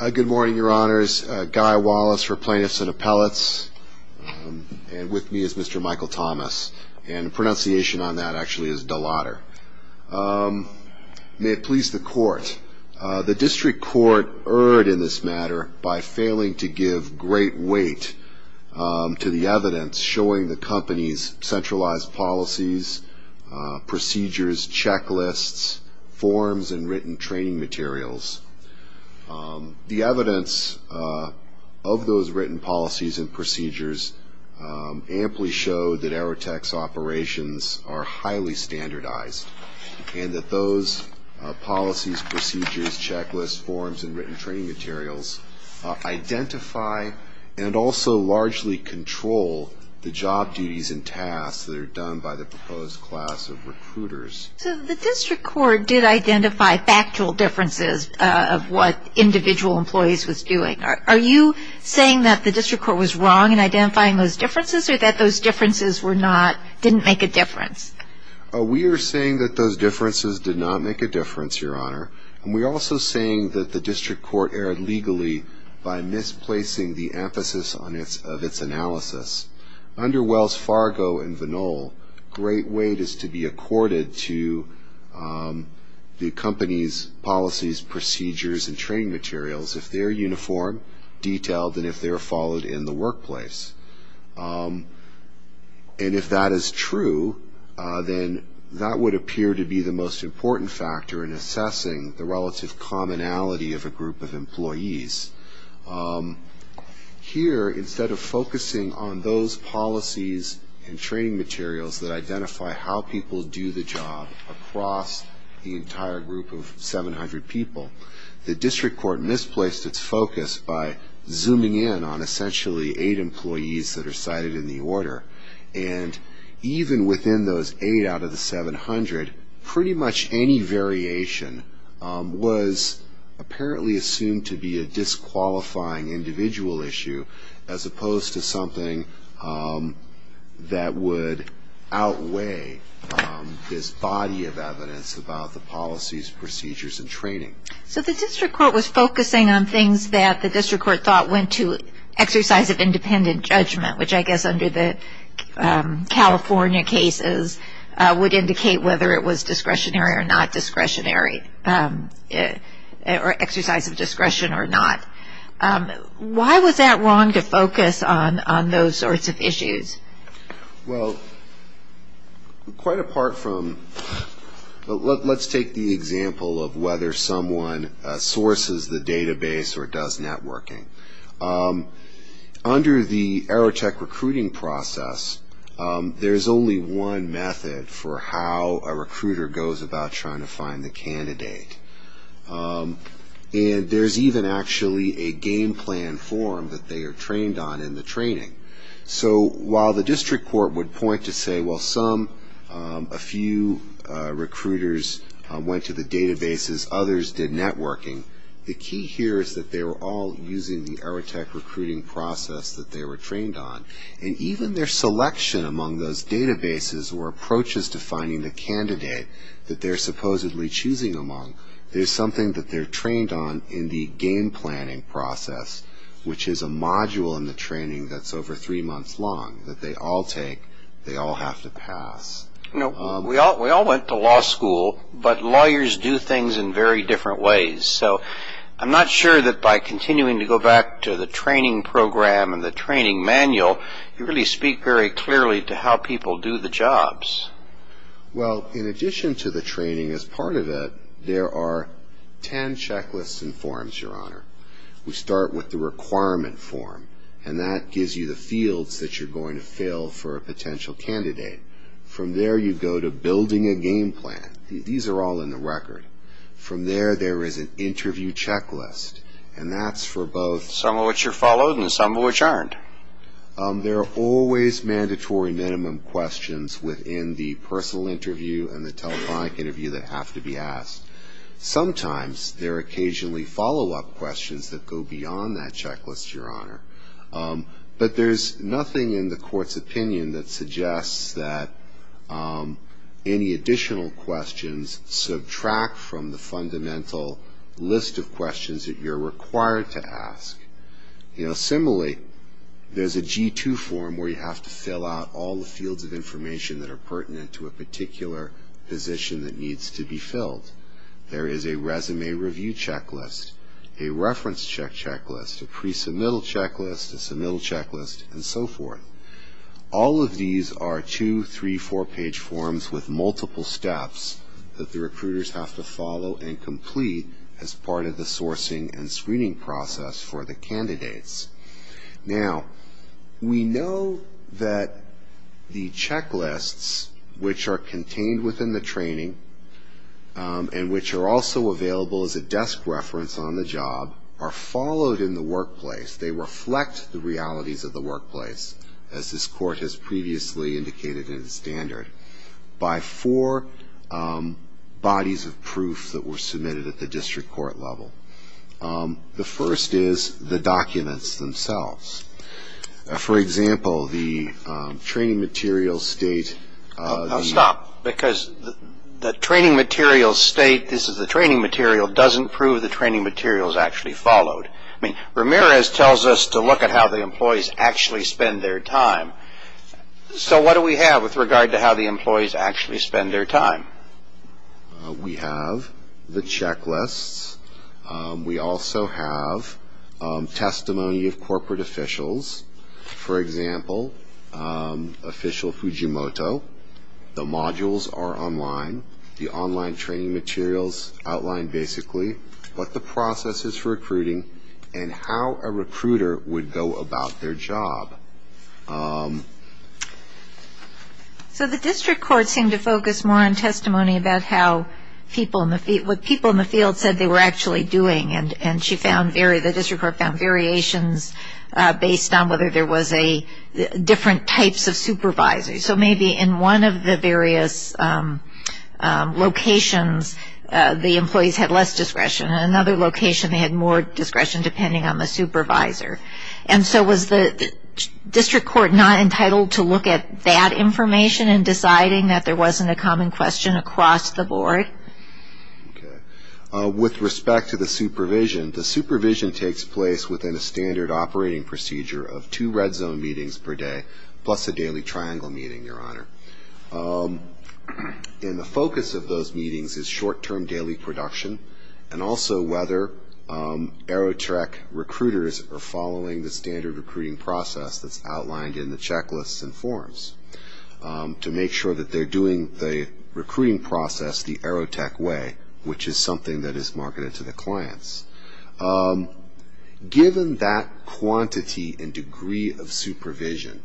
Good morning, your honors. Guy Wallace for Plaintiffs and Appellates. And with me is Mr. Michael Thomas. And the pronunciation on that actually is Delodder. May it please the court. The district court erred in this matter by failing to give great weight to the evidence showing the company's centralized policies, procedures, checklists, forms, and written training materials. The evidence of those written policies and procedures amply show that Aerotek's operations are highly standardized and that those policies, procedures, checklists, forms, and written training materials identify and also largely control the job duties and tasks that are done by the proposed class of recruiters. So the district court did identify factual differences of what individual employees was doing. Are you saying that the district court was wrong in identifying those differences or that those differences were not, didn't make a difference? We are saying that those differences did not make a difference, your honor. And we are also saying that the district court erred legally by misplacing the emphasis of its analysis. Under Wells Fargo and Vinol, great weight is to be accorded to the company's policies, procedures, and training materials if they are uniform, detailed, and if they are followed in the workplace. And if that is true, then that would appear to be the most important factor in assessing the relative commonality of a group of employees. Here, instead of focusing on those policies and training materials that identify how people do the job across the entire group of 700 people, the district court misplaced its focus by zooming in on essentially eight employees that are cited in the order. And even within those eight out of the 700, pretty much any variation was apparently assumed to be a disqualifying individual issue as opposed to something that was not a disqualifying individual issue. So the district court was focusing on things that the district court thought went to exercise of independent judgment, which I guess under the California cases would indicate whether it was discretionary or not discretionary, or exercise of discretion or not. Why was that wrong to focus on those sorts of issues? Well, quite apart from, let's take the example of whether someone sources the database or does networking. Under the Aerotech recruiting process, there's only one method for how a recruiter goes about trying to find the candidate. And there's even actually a game plan form that they are trained on in the training. So while the district court would point to say, well, some, a few recruiters went to the databases, others did networking, the key here is that they were all using the Aerotech recruiting process that they were trained on. And even their selection among those databases or approaches to finding the candidate that they're supposedly choosing among, there's something that they're trained on in the game planning process, which is a module in the training that's over three months long that they all take, they all have to pass. We all went to law school, but lawyers do things in very different ways. So I'm not sure that by continuing to go back to the training program and the training manual, you really speak very clearly to how people do the jobs. Well, in addition to the training, as part of it, there are ten checklists and forms, Your Honor. We start with the requirement form, and that gives you the fields that you're going to fill for a potential candidate. From there, you go to building a game plan. These are all in the record. From there, there is an interview checklist, and that's for both. Some of which are followed and some of which aren't. There are always mandatory minimum questions within the personal interview and the telephonic interview that have to be asked. Sometimes there are occasionally follow-up questions that go beyond that checklist, Your Honor. But there's nothing in the Court's opinion that suggests that any additional questions subtract from the fundamental list of questions that you're required to ask. Similarly, there's a G2 form where you have to fill out all the fields of information that are pertinent to a particular position that needs to be filled. There is a resume review checklist, a reference check checklist, a pre-submittal checklist, a submittal checklist, and so forth. All of these are two-, three-, four-page forms with multiple steps that the recruiters have to follow and complete as part of the sourcing and screening process for the candidates. Now, we know that the checklists, which are contained within the training and which are also available as a desk reference on the job, are followed in the workplace. They reflect the realities of the workplace, as this Court has previously indicated in the standard, by four bodies of proof that were submitted at the district court level. The first is the documents themselves. For example, the training materials state- Now, stop, because the training materials state this is the training material doesn't prove the training materials actually followed. I mean, Ramirez tells us to look at how the employees actually spend their time. So what do we have with regard to how the employees actually spend their time? We have the checklists. We also have testimony of corporate officials. For example, official Fujimoto. The modules are online. The online training materials outline basically what the process is for recruiting and how a recruiter would go about their job. So the district court seemed to focus more on testimony about how people in the field, what people in the field said they were actually doing, and the district court found variations based on whether there was different types of supervisors. So maybe in one of the various locations, the employees had less discretion. In another location, they had more discretion depending on the supervisor. And so was the district court not entitled to look at that information in deciding that there wasn't a common question across the board? Okay. With respect to the supervision, the supervision takes place within a standard operating procedure of two red zone meetings per day plus a daily triangle meeting, Your Honor. And the focus of those meetings is short-term daily production and also whether Aerotech recruiters are following the standard recruiting process that's outlined in the checklists and forms to make sure that they're doing the recruiting process the Aerotech way, which is something that is marketed to the clients. Given that quantity and degree of supervision,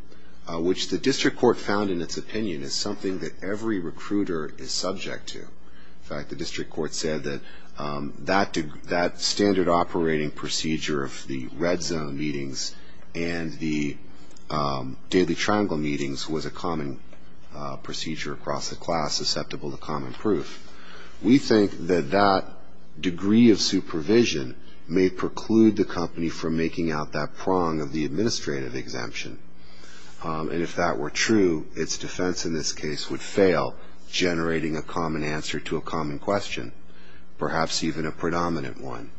which the district court found in its opinion is something that every recruiter is subject to. In fact, the district court said that that standard operating procedure of the red zone meetings and the daily triangle meetings was a common procedure across the class, susceptible to common proof. We think that that degree of supervision may preclude the company from making out that prong of the administrative exemption. And if that were true, its defense in this case would fail, generating a common answer to a common question, perhaps even a predominant one.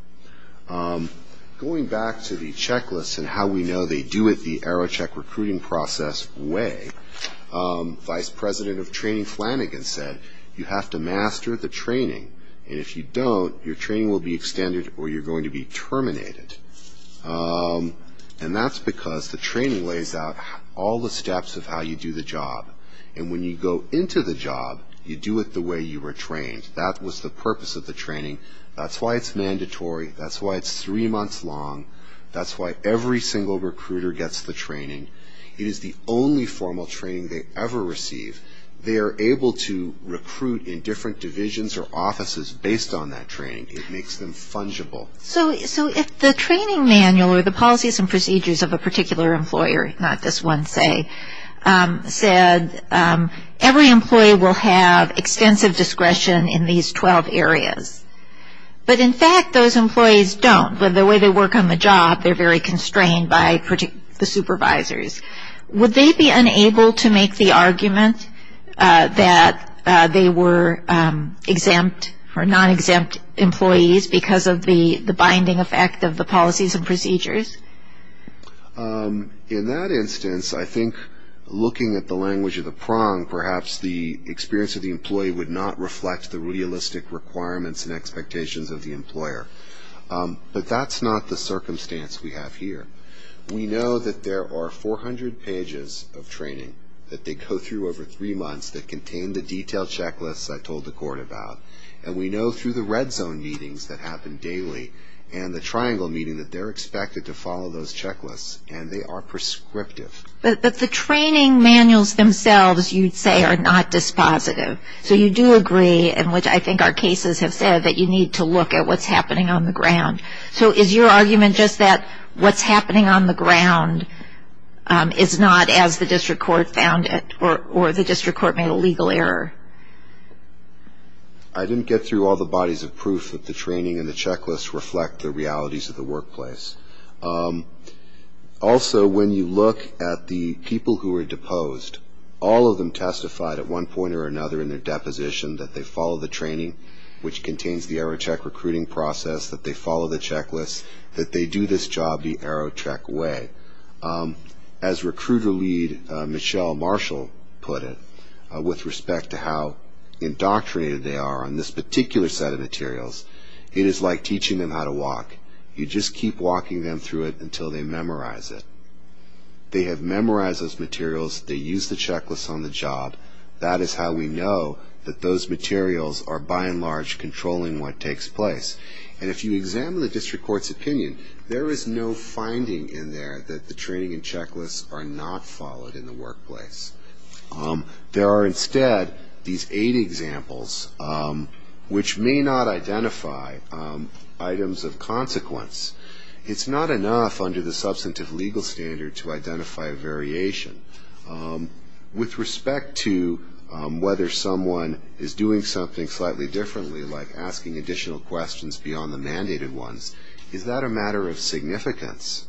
Going back to the checklist and how we know they do it the Aerotech recruiting process way, Vice President of Training Flanagan said, you have to master the training. And if you don't, your training will be extended or you're going to be terminated. And that's because the training lays out all the steps of how you do the job. And when you go into the job, you do it the way you were trained. That was the purpose of the training. That's why it's mandatory. That's why it's three months long. That's why every single recruiter gets the training. It is the only formal training they ever receive. They are able to recruit in different divisions or offices based on that training. It makes them fungible. So if the training manual or the policies and procedures of a particular employer, not just one, say, said every employee will have extensive discretion in these 12 areas, but in fact those employees don't. The way they work on the job, they're very constrained by the supervisors. Would they be unable to make the argument that they were exempt or non-exempt employees because of the binding effect of the policies and procedures? In that instance, I think looking at the language of the prong, perhaps the experience of the employee would not reflect the realistic requirements and expectations of the employer. But that's not the circumstance we have here. We know that there are 400 pages of training that they go through over three months that contain the detailed checklists I told the court about, and we know through the red zone meetings that happen daily and the triangle meeting that they're expected to follow those checklists, and they are prescriptive. But the training manuals themselves, you'd say, are not dispositive. So you do agree, and which I think our cases have said, that you need to look at what's happening on the ground. So is your argument just that what's happening on the ground is not as the district court found it or the district court made a legal error? I didn't get through all the bodies of proof that the training and the checklist reflect the realities of the workplace. Also, when you look at the people who are deposed, all of them testified at one point or another in their deposition that they follow the training which contains the AeroCheck recruiting process, that they follow the checklist, that they do this job the AeroCheck way. As recruiter lead Michelle Marshall put it, with respect to how indoctrinated they are on this particular set of materials, it is like teaching them how to walk. You just keep walking them through it until they memorize it. They have memorized those materials. They used the checklist on the job. That is how we know that those materials are, by and large, controlling what takes place. And if you examine the district court's opinion, there is no finding in there that the training and checklists are not followed in the workplace. There are instead these eight examples which may not identify items of consequence. It's not enough under the substantive legal standard to identify a variation. With respect to whether someone is doing something slightly differently, like asking additional questions beyond the mandated ones, is that a matter of significance?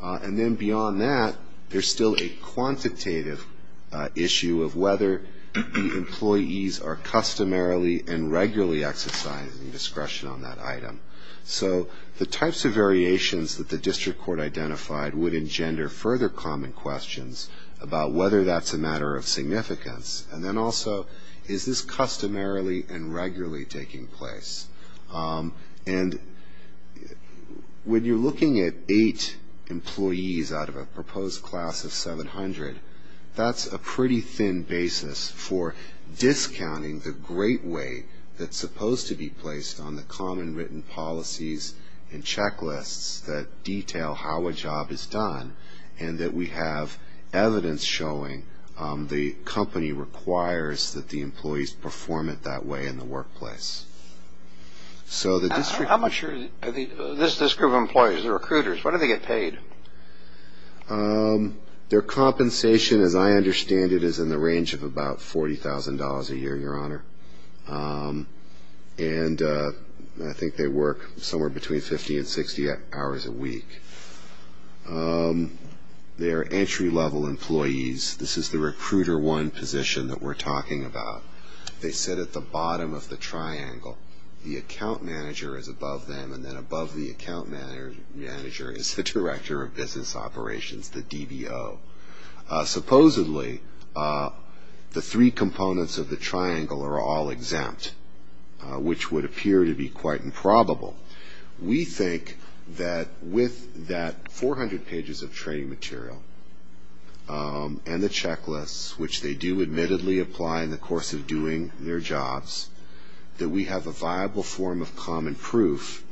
And then beyond that, there is still a quantitative issue of whether the employees are customarily and regularly exercising discretion on that item. So the types of variations that the district court identified would engender further common questions about whether that's a matter of significance. And then also, is this customarily and regularly taking place? And when you're looking at eight employees out of a proposed class of 700, that's a pretty thin basis for discounting the great weight that's supposed to be placed on the common written policies and checklists that detail how a job is done and that we have evidence showing the company requires that the employees perform it that way in the workplace. How much are this group of employees, the recruiters, what do they get paid? Their compensation, as I understand it, is in the range of about $40,000 a year, Your Honor. And I think they work somewhere between 50 and 60 hours a week. They are entry-level employees. This is the recruiter one position that we're talking about. They sit at the bottom of the triangle. The account manager is above them, and then above the account manager is the director of business operations, the DBO. Supposedly, the three components of the triangle are all exempt, which would appear to be quite improbable. We think that with that 400 pages of training material and the checklists, which they do admittedly apply in the course of doing their jobs, that we have a viable form of common proof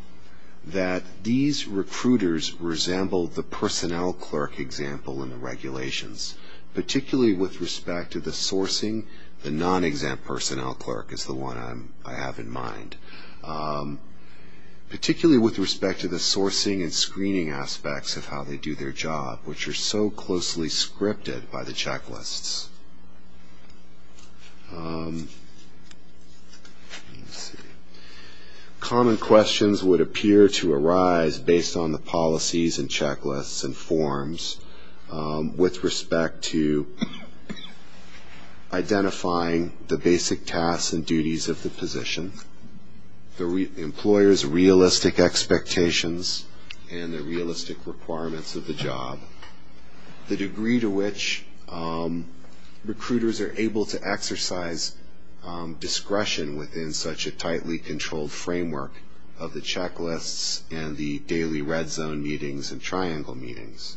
that these recruiters resemble the personnel clerk example in the regulations, particularly with respect to the sourcing, the non-exempt personnel clerk is the one I have in mind, particularly with respect to the sourcing and screening aspects of how they do their job, which are so closely scripted by the checklists. Common questions would appear to arise based on the policies and checklists and forms with respect to identifying the basic tasks and duties of the position, the employer's realistic expectations and the realistic requirements of the job, the degree to which recruiters are able to exercise discretion within such a tightly controlled framework of the checklists and the daily red zone meetings and triangle meetings.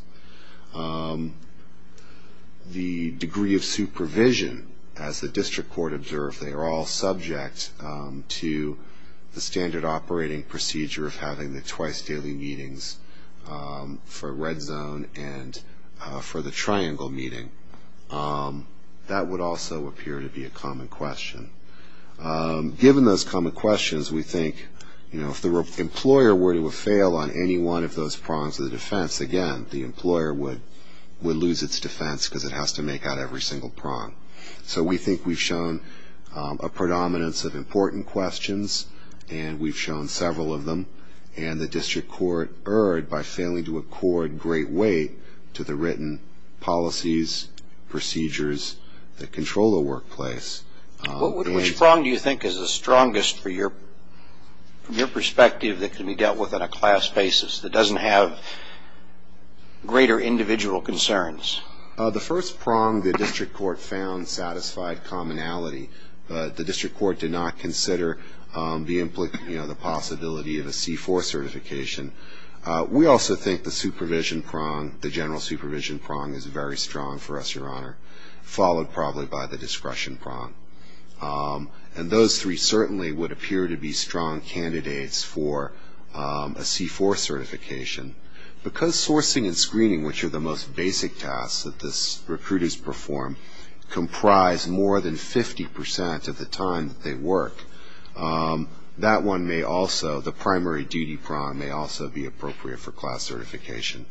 The degree of supervision, as the district court observed, they are all subject to the standard operating procedure of having the twice daily meetings for red zone and for the triangle meeting. That would also appear to be a common question. Given those common questions, we think if the employer were to fail on any one of those prongs of the defense, again, the employer would lose its defense because it has to make out every single prong. So we think we've shown a predominance of important questions, and we've shown several of them, and the district court erred by failing to accord great weight to the written policies, procedures that control the workplace. Which prong do you think is the strongest from your perspective that can be dealt with on a class basis that doesn't have greater individual concerns? The first prong the district court found satisfied commonality. The district court did not consider the possibility of a C-4 certification. We also think the supervision prong, the general supervision prong, is very strong for us, Your Honor, followed probably by the discretion prong. And those three certainly would appear to be strong candidates for a C-4 certification. Because sourcing and screening, which are the most basic tasks that the recruiters perform, comprise more than 50 percent of the time that they work, that one may also, the primary duty prong may also be appropriate for class certification.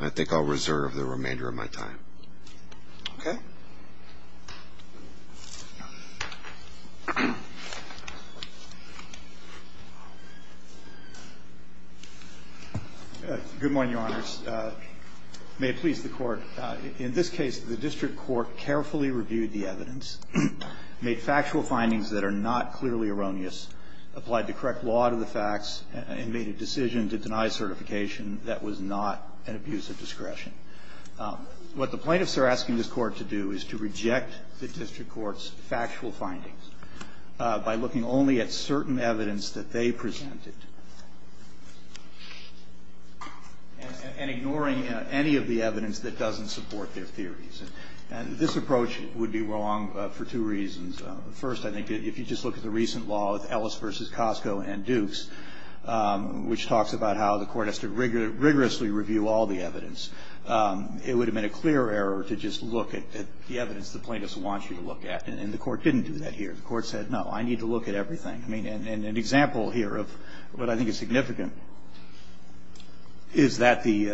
I think I'll reserve the remainder of my time. Okay? Good morning, Your Honors. May it please the Court, in this case, the district court carefully reviewed the evidence, made factual findings that are not clearly erroneous, applied the correct law to the facts, and made a decision to deny certification that was not an abuse of discretion. What the plaintiffs are asking this Court to do is to reject the district court's factual findings by looking only at certain evidence that they presented and ignoring any of the evidence that doesn't support their theories. And this approach would be wrong for two reasons. First, I think, if you just look at the recent law with Ellis v. Costco and Dukes, which talks about how the Court has to rigorously review all the evidence, it would have been a clear error to just look at the evidence the plaintiffs want you to look at. And the Court didn't do that here. The Court said, no, I need to look at everything. I mean, and an example here of what I think is significant is that the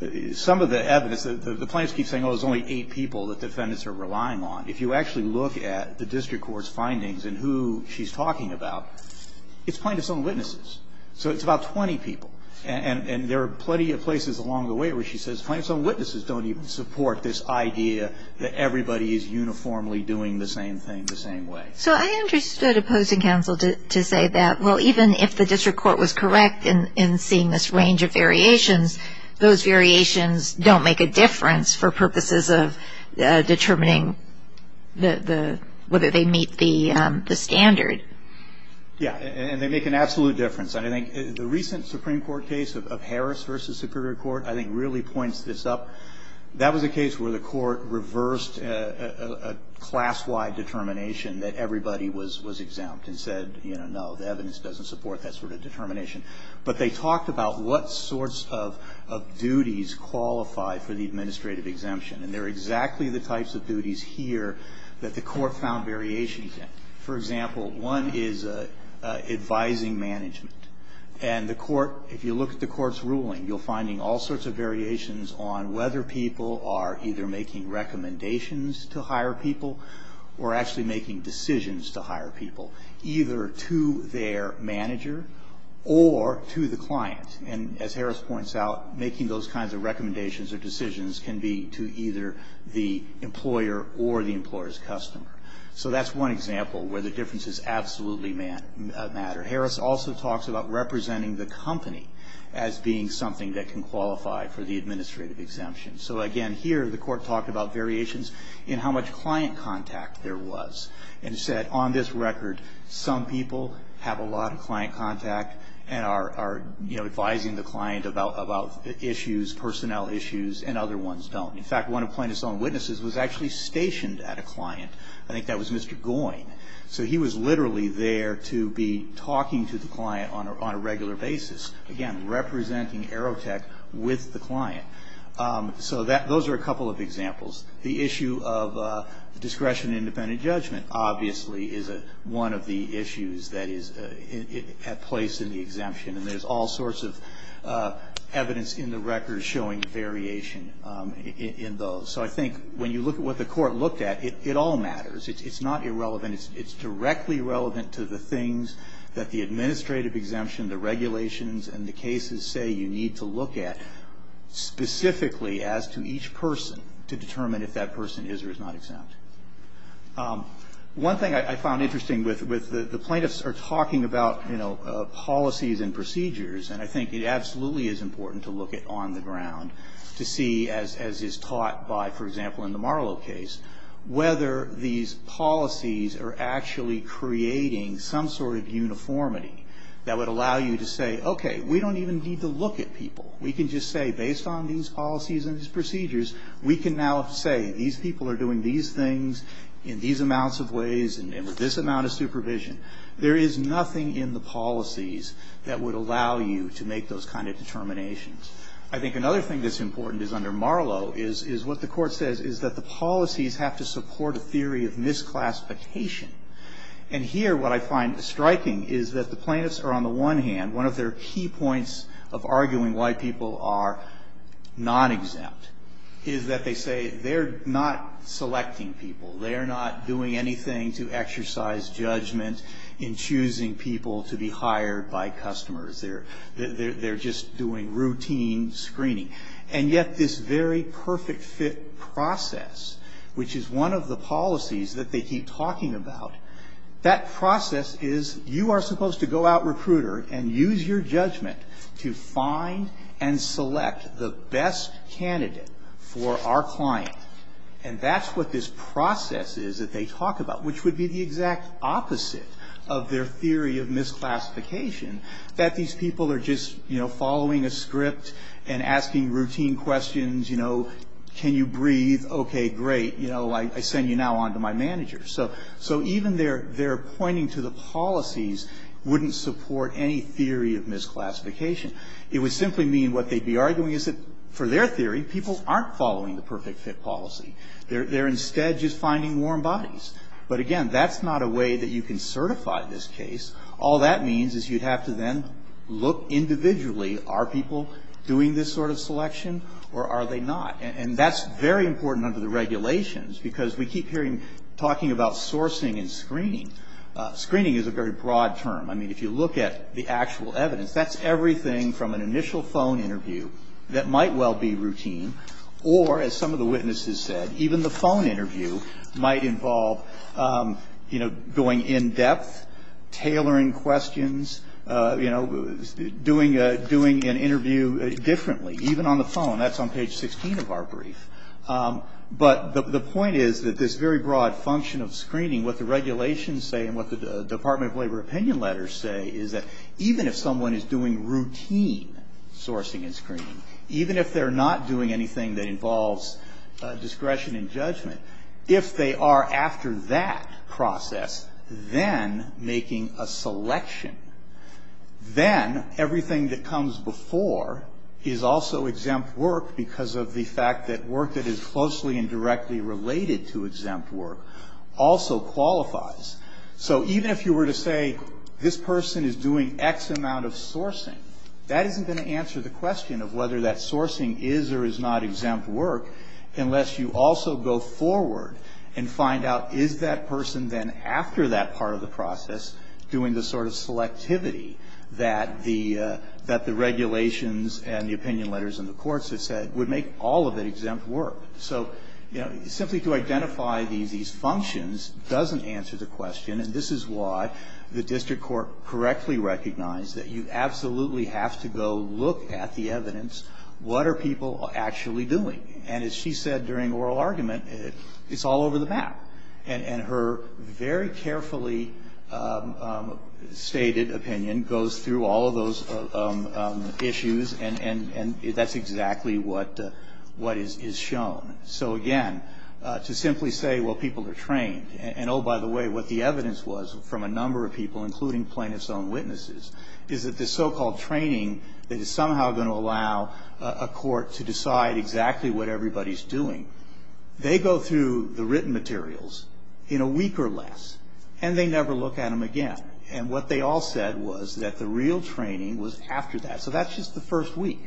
‑‑ some of the evidence, the plaintiffs keep saying, oh, there's only eight people that defendants are relying on. If you actually look at the district court's findings and who she's talking about, it's plaintiffs' own witnesses. So it's about 20 people. And there are plenty of places along the way where she says, plaintiffs' own witnesses don't even support this idea that everybody is uniformly doing the same thing the same way. So I understood opposing counsel to say that, well, even if the district court was correct in seeing this range of variations, those variations don't make a difference for purposes of determining whether they meet the standard. Yeah, and they make an absolute difference. And I think the recent Supreme Court case of Harris v. Superior Court, I think, really points this up. That was a case where the Court reversed a class-wide determination that everybody was exempt and said, you know, no, the evidence doesn't support that sort of determination. But they talked about what sorts of duties qualify for the administrative exemption. And they're exactly the types of duties here that the Court found variations in. For example, one is advising management. And the Court, if you look at the Court's ruling, you're finding all sorts of variations on whether people are either making recommendations to hire people or actually making decisions to hire people, either to their manager or to the client. And as Harris points out, making those kinds of recommendations or decisions can be to either the employer or the employer's customer. So that's one example where the differences absolutely matter. Harris also talks about representing the company as being something that can qualify for the administrative exemption. So, again, here the Court talked about variations in how much client contact there was and said, on this record, some people have a lot of client contact and are, you know, advising the client about issues, personnel issues, and other ones don't. In fact, one of Plaintiff's own witnesses was actually stationed at a client. I think that was Mr. Goyne. So he was literally there to be talking to the client on a regular basis, again, representing Aerotech with the client. So those are a couple of examples. The issue of discretionary independent judgment, obviously, is one of the issues that is at place in the exemption. And there's all sorts of evidence in the record showing variation in those. So I think when you look at what the Court looked at, it all matters. It's not irrelevant. It's directly relevant to the things that the administrative exemption, the regulations, and the cases say you need to look at, specifically as to each person to determine if that person is or is not exempt. One thing I found interesting with the plaintiffs are talking about, you know, policies and procedures, and I think it absolutely is important to look at on the ground to see, as is taught by, for example, in the Marlow case, whether these policies are actually creating some sort of uniformity that would allow you to say, okay, we don't even need to look at people. We can just say, based on these policies and these procedures, we can now say these people are doing these things in these amounts of ways and with this amount of supervision. There is nothing in the policies that would allow you to make those kind of determinations. I think another thing that's important is under Marlow is what the Court says, is that the policies have to support a theory of misclassification. And here what I find striking is that the plaintiffs are, on the one hand, one of their key points of arguing why people are non-exempt is that they say they're not selecting people. They're not doing anything to exercise judgment in choosing people to be hired by customers. They're just doing routine screening. And yet this very perfect fit process, which is one of the policies that they keep talking about, that process is you are supposed to go out, recruiter, and use your judgment to find and select the best candidate for our client. And that's what this process is that they talk about, which would be the exact opposite of their theory of misclassification, that these people are just, you know, following a script and asking routine questions. You know, can you breathe? Okay, great. You know, I send you now on to my manager. So even their pointing to the policies wouldn't support any theory of misclassification. It would simply mean what they'd be arguing is that for their theory, people aren't following the perfect fit policy. They're instead just finding warm bodies. But again, that's not a way that you can certify this case. All that means is you'd have to then look individually, are people doing this sort of selection or are they not? And that's very important under the regulations, because we keep hearing talking about sourcing and screening. Screening is a very broad term. I mean, if you look at the actual evidence, that's everything from an initial phone interview that might well be routine, or as some of the witnesses said, even the phone interview might involve, you know, going in depth, tailoring questions, you know, doing an interview differently, even on the phone. That's on page 16 of our brief. But the point is that this very broad function of screening, what the regulations say and what the Department of Labor opinion letters say, is that even if someone is doing routine sourcing and screening, even if they're not doing anything that involves discretion and judgment, if they are after that process then making a selection, then everything that comes before is also exempt work because of the fact that work that is closely and directly related to exempt work also qualifies. So even if you were to say, this person is doing X amount of sourcing, that isn't going to answer the question of whether that sourcing is or is not exempt work unless you also go forward and find out, is that person then after that part of the process doing the sort of selectivity that the regulations and the opinion letters and the courts have said would make all of it exempt work? So, you know, simply to identify these functions doesn't answer the question, and this is why the district court correctly recognized that you absolutely have to go look at the evidence. What are people actually doing? And as she said during oral argument, it's all over the map. And her very carefully stated opinion goes through all of those issues, and that's exactly what is shown. So again, to simply say, well, people are trained, and oh, by the way, what the evidence was from a number of people, including plaintiff's own witnesses, is that the so-called training that is somehow going to allow a court to decide exactly what everybody's doing, they go through the written materials in a week or less, and they never look at them again. And what they all said was that the real training was after that. So that's just the first week.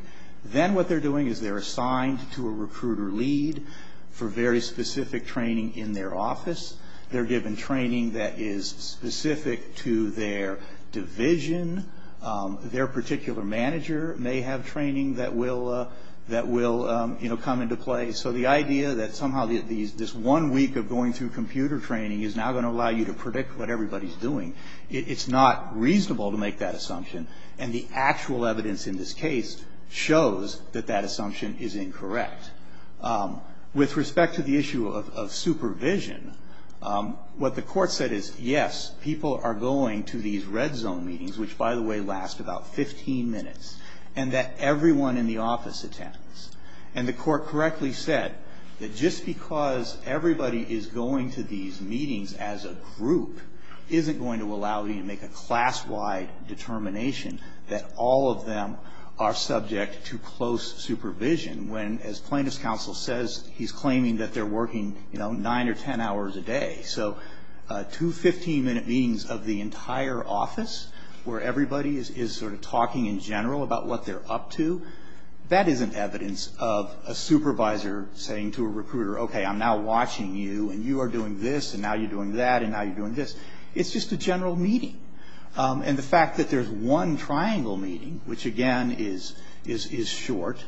Then what they're doing is they're assigned to a recruiter lead for very specific training in their office. They're given training that is specific to their division. Their particular manager may have training that will come into play. So the idea that somehow this one week of going through computer training is now going to allow you to predict what everybody's doing, it's not reasonable to make that assumption. And the actual evidence in this case shows that that assumption is incorrect. With respect to the issue of supervision, what the court said is, yes, people are going to these red zone meetings, which, by the way, last about 15 minutes, and that everyone in the office attends. And the court correctly said that just because everybody is going to these meetings as a group isn't going to allow you to make a class-wide determination that all of them are subject to close supervision, when, as plaintiff's counsel says, he's claiming that they're working, you know, nine or ten hours a day. So two 15-minute meetings of the entire office, where everybody is sort of talking in general about what they're up to, that isn't evidence of a supervisor saying to a recruiter, okay, I'm now watching you, and you are doing this, and now you're doing that, and now you're doing this. It's just a general meeting. And the fact that there's one triangle meeting, which, again, is short,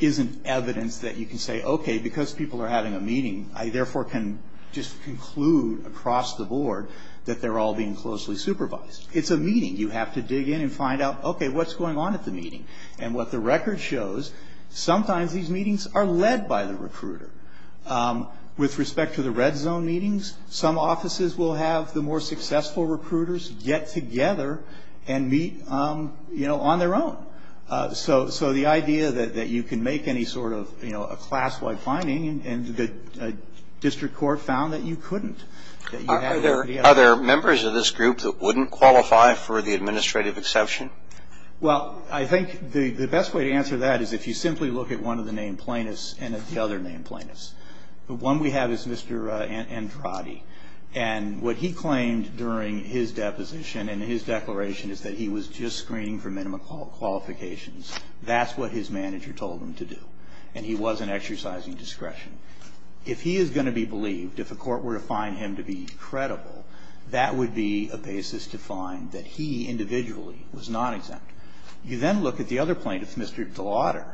isn't evidence that you can say, okay, because people are having a meeting, I therefore can just conclude across the board that they're all being closely supervised. It's a meeting. You have to dig in and find out, okay, what's going on at the meeting? And what the record shows, sometimes these meetings are led by the recruiter. With respect to the red zone meetings, some offices will have the more successful recruiters get together and meet, you know, on their own. So the idea that you can make any sort of, you know, a class-wide finding, and the district court found that you couldn't. Are there members of this group that wouldn't qualify for the administrative exception? Well, I think the best way to answer that is if you simply look at one of the named plaintiffs and at the other named plaintiffs. The one we have is Mr. Andrade. And what he claimed during his deposition and his declaration is that he was just screening for minimum qualifications. That's what his manager told him to do. And he wasn't exercising discretion. If he is going to be believed, if a court were to find him to be credible, that would be a basis to find that he individually was not exempt. You then look at the other plaintiff, Mr. Delauder,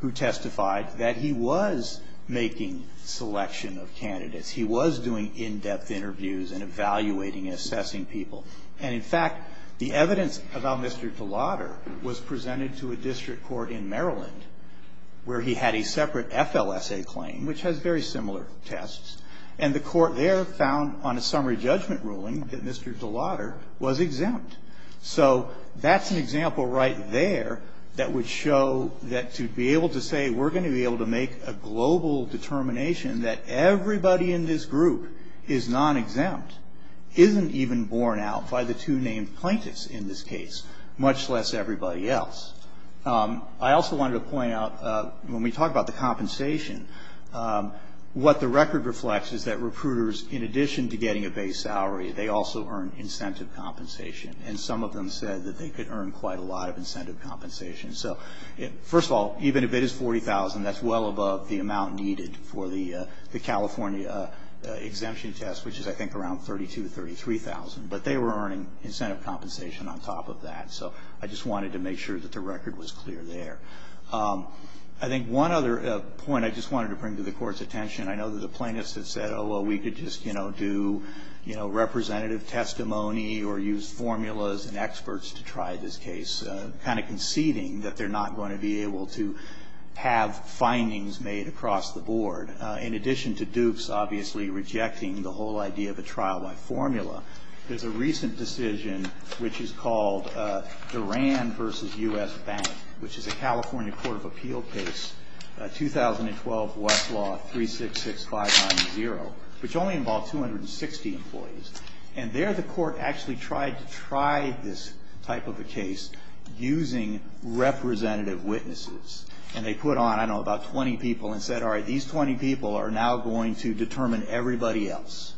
who testified that he was making selection of candidates. He was doing in-depth interviews and evaluating and assessing people. And, in fact, the evidence about Mr. Delauder was presented to a district court in Maryland where he had a separate FLSA claim, which has very similar tests. And the court there found on a summary judgment ruling that Mr. Delauder was exempt. So that's an example right there that would show that to be able to say we're going to be able to make a global determination that everybody in this group is non-exempt isn't even borne out by the two named plaintiffs in this case, much less everybody else. I also wanted to point out when we talk about the compensation, what the record reflects is that recruiters, in addition to getting a base salary, they also earn incentive compensation. And some of them said that they could earn quite a lot of incentive compensation. So, first of all, even if it is $40,000, that's well above the amount needed for the California exemption test, which is, I think, around $32,000 to $33,000. But they were earning incentive compensation on top of that. So I just wanted to make sure that the record was clear there. I think one other point I just wanted to bring to the Court's attention, I know that the plaintiffs have said, oh, well, we could just do representative testimony or use formulas and experts to try this case, kind of conceding that they're not going to be able to have findings made across the board. In addition to Dukes obviously rejecting the whole idea of a trial by formula, there's a recent decision which is called Duran v. U.S. Bank, which is a California court of appeal case, 2012 Westlaw 366590, which only involved 260 employees. And there the court actually tried to try this type of a case using representative witnesses. And they put on, I don't know, about 20 people and said, all right, these 20 people are now going to determine everybody else.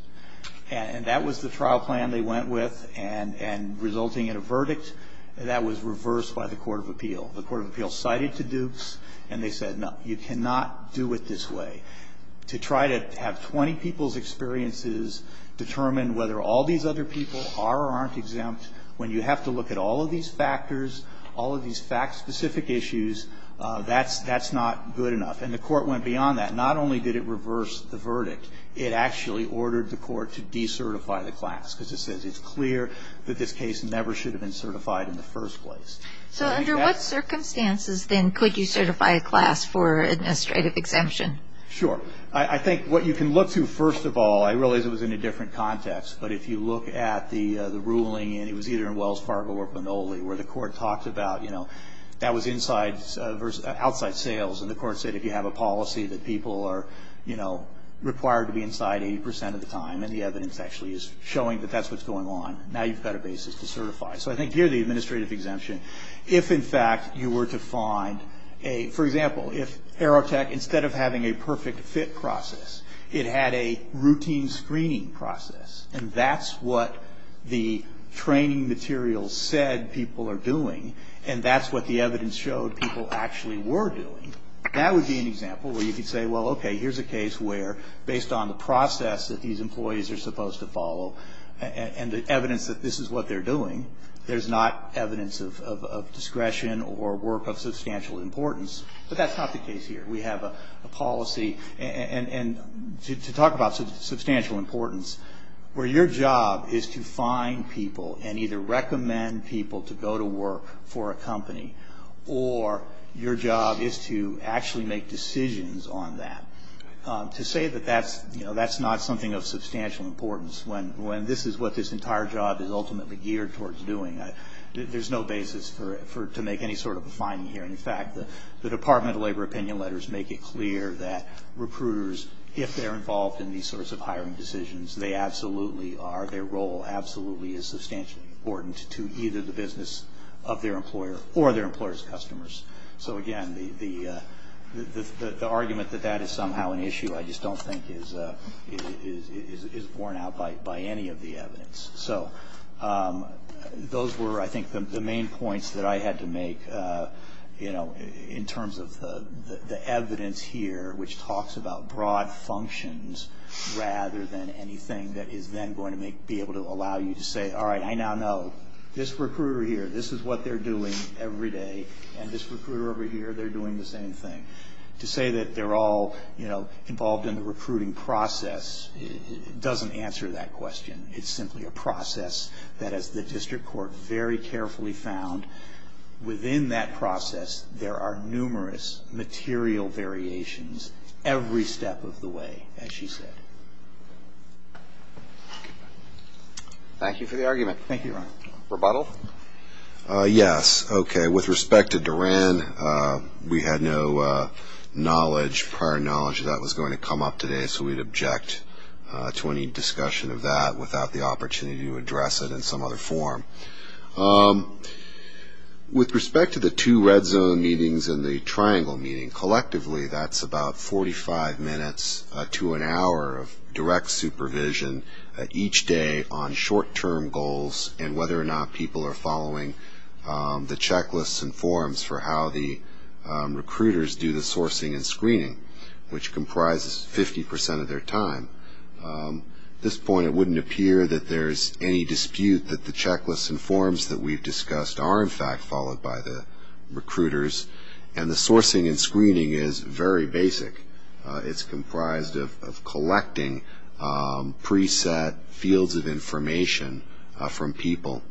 And that was the trial plan they went with and resulting in a verdict that was reversed by the court of appeal. The court of appeal cited to Dukes and they said, no, you cannot do it this way. To try to have 20 people's experiences determine whether all these other people are or aren't exempt when you have to look at all of these factors, all of these fact-specific issues, that's not good enough. And the court went beyond that. Not only did it reverse the verdict. It actually ordered the court to decertify the class because it says it's clear that this case never should have been certified in the first place. So under what circumstances, then, could you certify a class for administrative exemption? Sure. I think what you can look to, first of all, I realize it was in a different context, but if you look at the ruling, and it was either in Wells Fargo or Minoli, where the court talked about, you know, that was outside sales, and the court said if you have a policy that people are, you know, required to be inside 80 percent of the time, and the evidence actually is showing that that's what's going on, now you've got a basis to certify. So I think here the administrative exemption, if, in fact, you were to find a, for example, if Aerotech, instead of having a perfect fit process, it had a routine screening process, and that's what the training materials said people are doing, and that's what the evidence showed people actually were doing, that would be an example where you could say, well, okay, here's a case where based on the process that these employees are supposed to follow and the evidence that this is what they're doing, there's not evidence of discretion or work of substantial importance, but that's not the case here. We have a policy, and to talk about substantial importance, where your job is to find people and either recommend people to go to work for a company, or your job is to actually make decisions on that. To say that that's not something of substantial importance, when this is what this entire job is ultimately geared towards doing, there's no basis to make any sort of a finding here. In fact, the Department of Labor opinion letters make it clear that recruiters, if they're involved in these sorts of hiring decisions, they absolutely are, their role absolutely is substantially important to either the business of their employer or their employer's customers. So, again, the argument that that is somehow an issue I just don't think is borne out by any of the evidence. So those were, I think, the main points that I had to make, you know, in terms of the evidence here which talks about broad functions rather than anything that is then going to be able to allow you to say, all right, I now know. This recruiter here, this is what they're doing every day, and this recruiter over here, they're doing the same thing. To say that they're all, you know, involved in the recruiting process doesn't answer that question. It's simply a process that, as the district court very carefully found, within that process, there are numerous material variations every step of the way, as she said. Thank you for the argument. Thank you, Ron. Rebuttal? Yes. Okay, with respect to Duran, we had no prior knowledge that that was going to come up today, so we'd object to any discussion of that without the opportunity to address it in some other form. With respect to the two red zone meetings and the triangle meeting, collectively, that's about 45 minutes to an hour of direct supervision each day on short-term goals and whether or not people are following the checklists and forms for how the recruiters do the sourcing and screening, which comprises 50% of their time. At this point, it wouldn't appear that there's any dispute that the checklists and forms that we've discussed are, in fact, followed by the recruiters, and the sourcing and screening is very basic. It's comprised of collecting pre-set fields of information from people.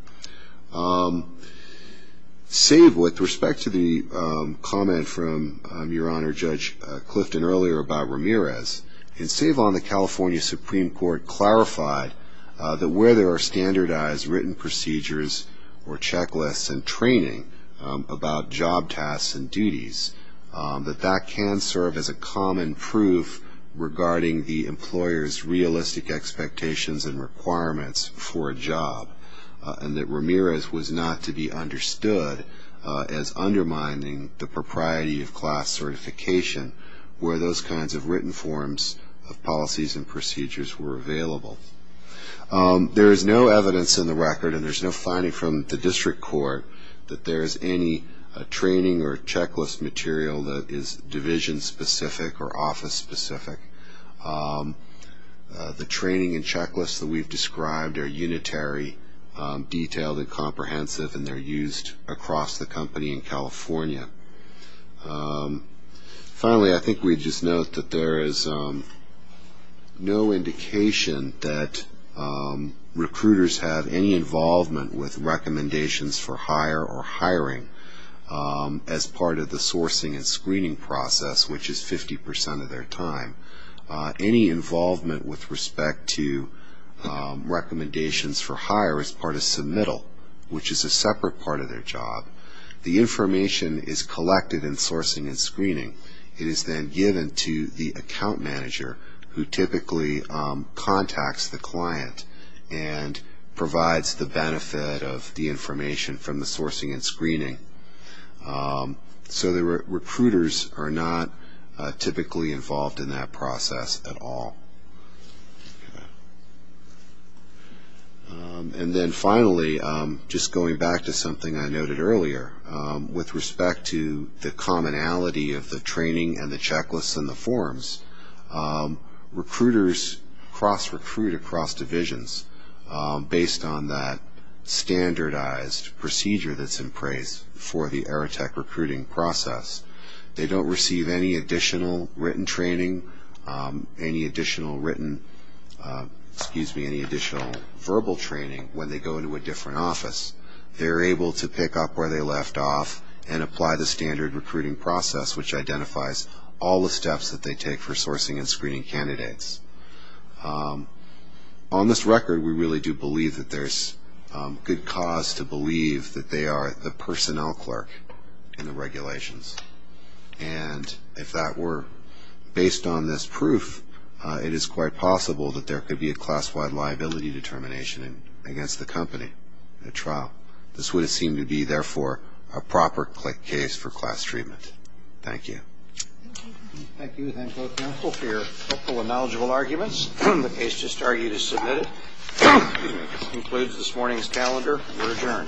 Save with respect to the comment from Your Honor Judge Clifton earlier about Ramirez, and save on the California Supreme Court clarified that where there are standardized written procedures or checklists and training about job tasks and duties, that that can serve as a common proof regarding the employer's realistic expectations and requirements for a job, and that Ramirez was not to be understood as undermining the propriety of class certification where those kinds of written forms of policies and procedures were available. There is no evidence in the record, and there's no finding from the district court, that there is any training or checklist material that is division-specific or office-specific. The training and checklists that we've described are unitary, detailed, and comprehensive, and they're used across the company in California. Finally, I think we just note that there is no indication that recruiters have any involvement with recommendations for hire or hiring as part of the sourcing and screening process, which is 50 percent of their time. Any involvement with respect to recommendations for hire is part of submittal, which is a separate part of their job. The information is collected in sourcing and screening. It is then given to the account manager, who typically contacts the client and provides the benefit of the information from the sourcing and screening. So the recruiters are not typically involved in that process at all. Okay. And then finally, just going back to something I noted earlier, with respect to the commonality of the training and the checklists and the forms, recruiters cross-recruit across divisions based on that standardized procedure that's in place for the Aerotech recruiting process. They don't receive any additional written training, any additional written, excuse me, any additional verbal training when they go into a different office. They're able to pick up where they left off and apply the standard recruiting process, which identifies all the steps that they take for sourcing and screening candidates. On this record, we really do believe that there's good cause to believe that they are the personnel clerk in the regulations. And if that were based on this proof, it is quite possible that there could be a class-wide liability determination against the company in a trial. This would seem to be, therefore, a proper case for class treatment. Thank you. Thank you. Thank you. Thank you, both counsel, for your helpful and knowledgeable arguments. The case just argued is submitted. This concludes this morning's calendar. We're adjourned.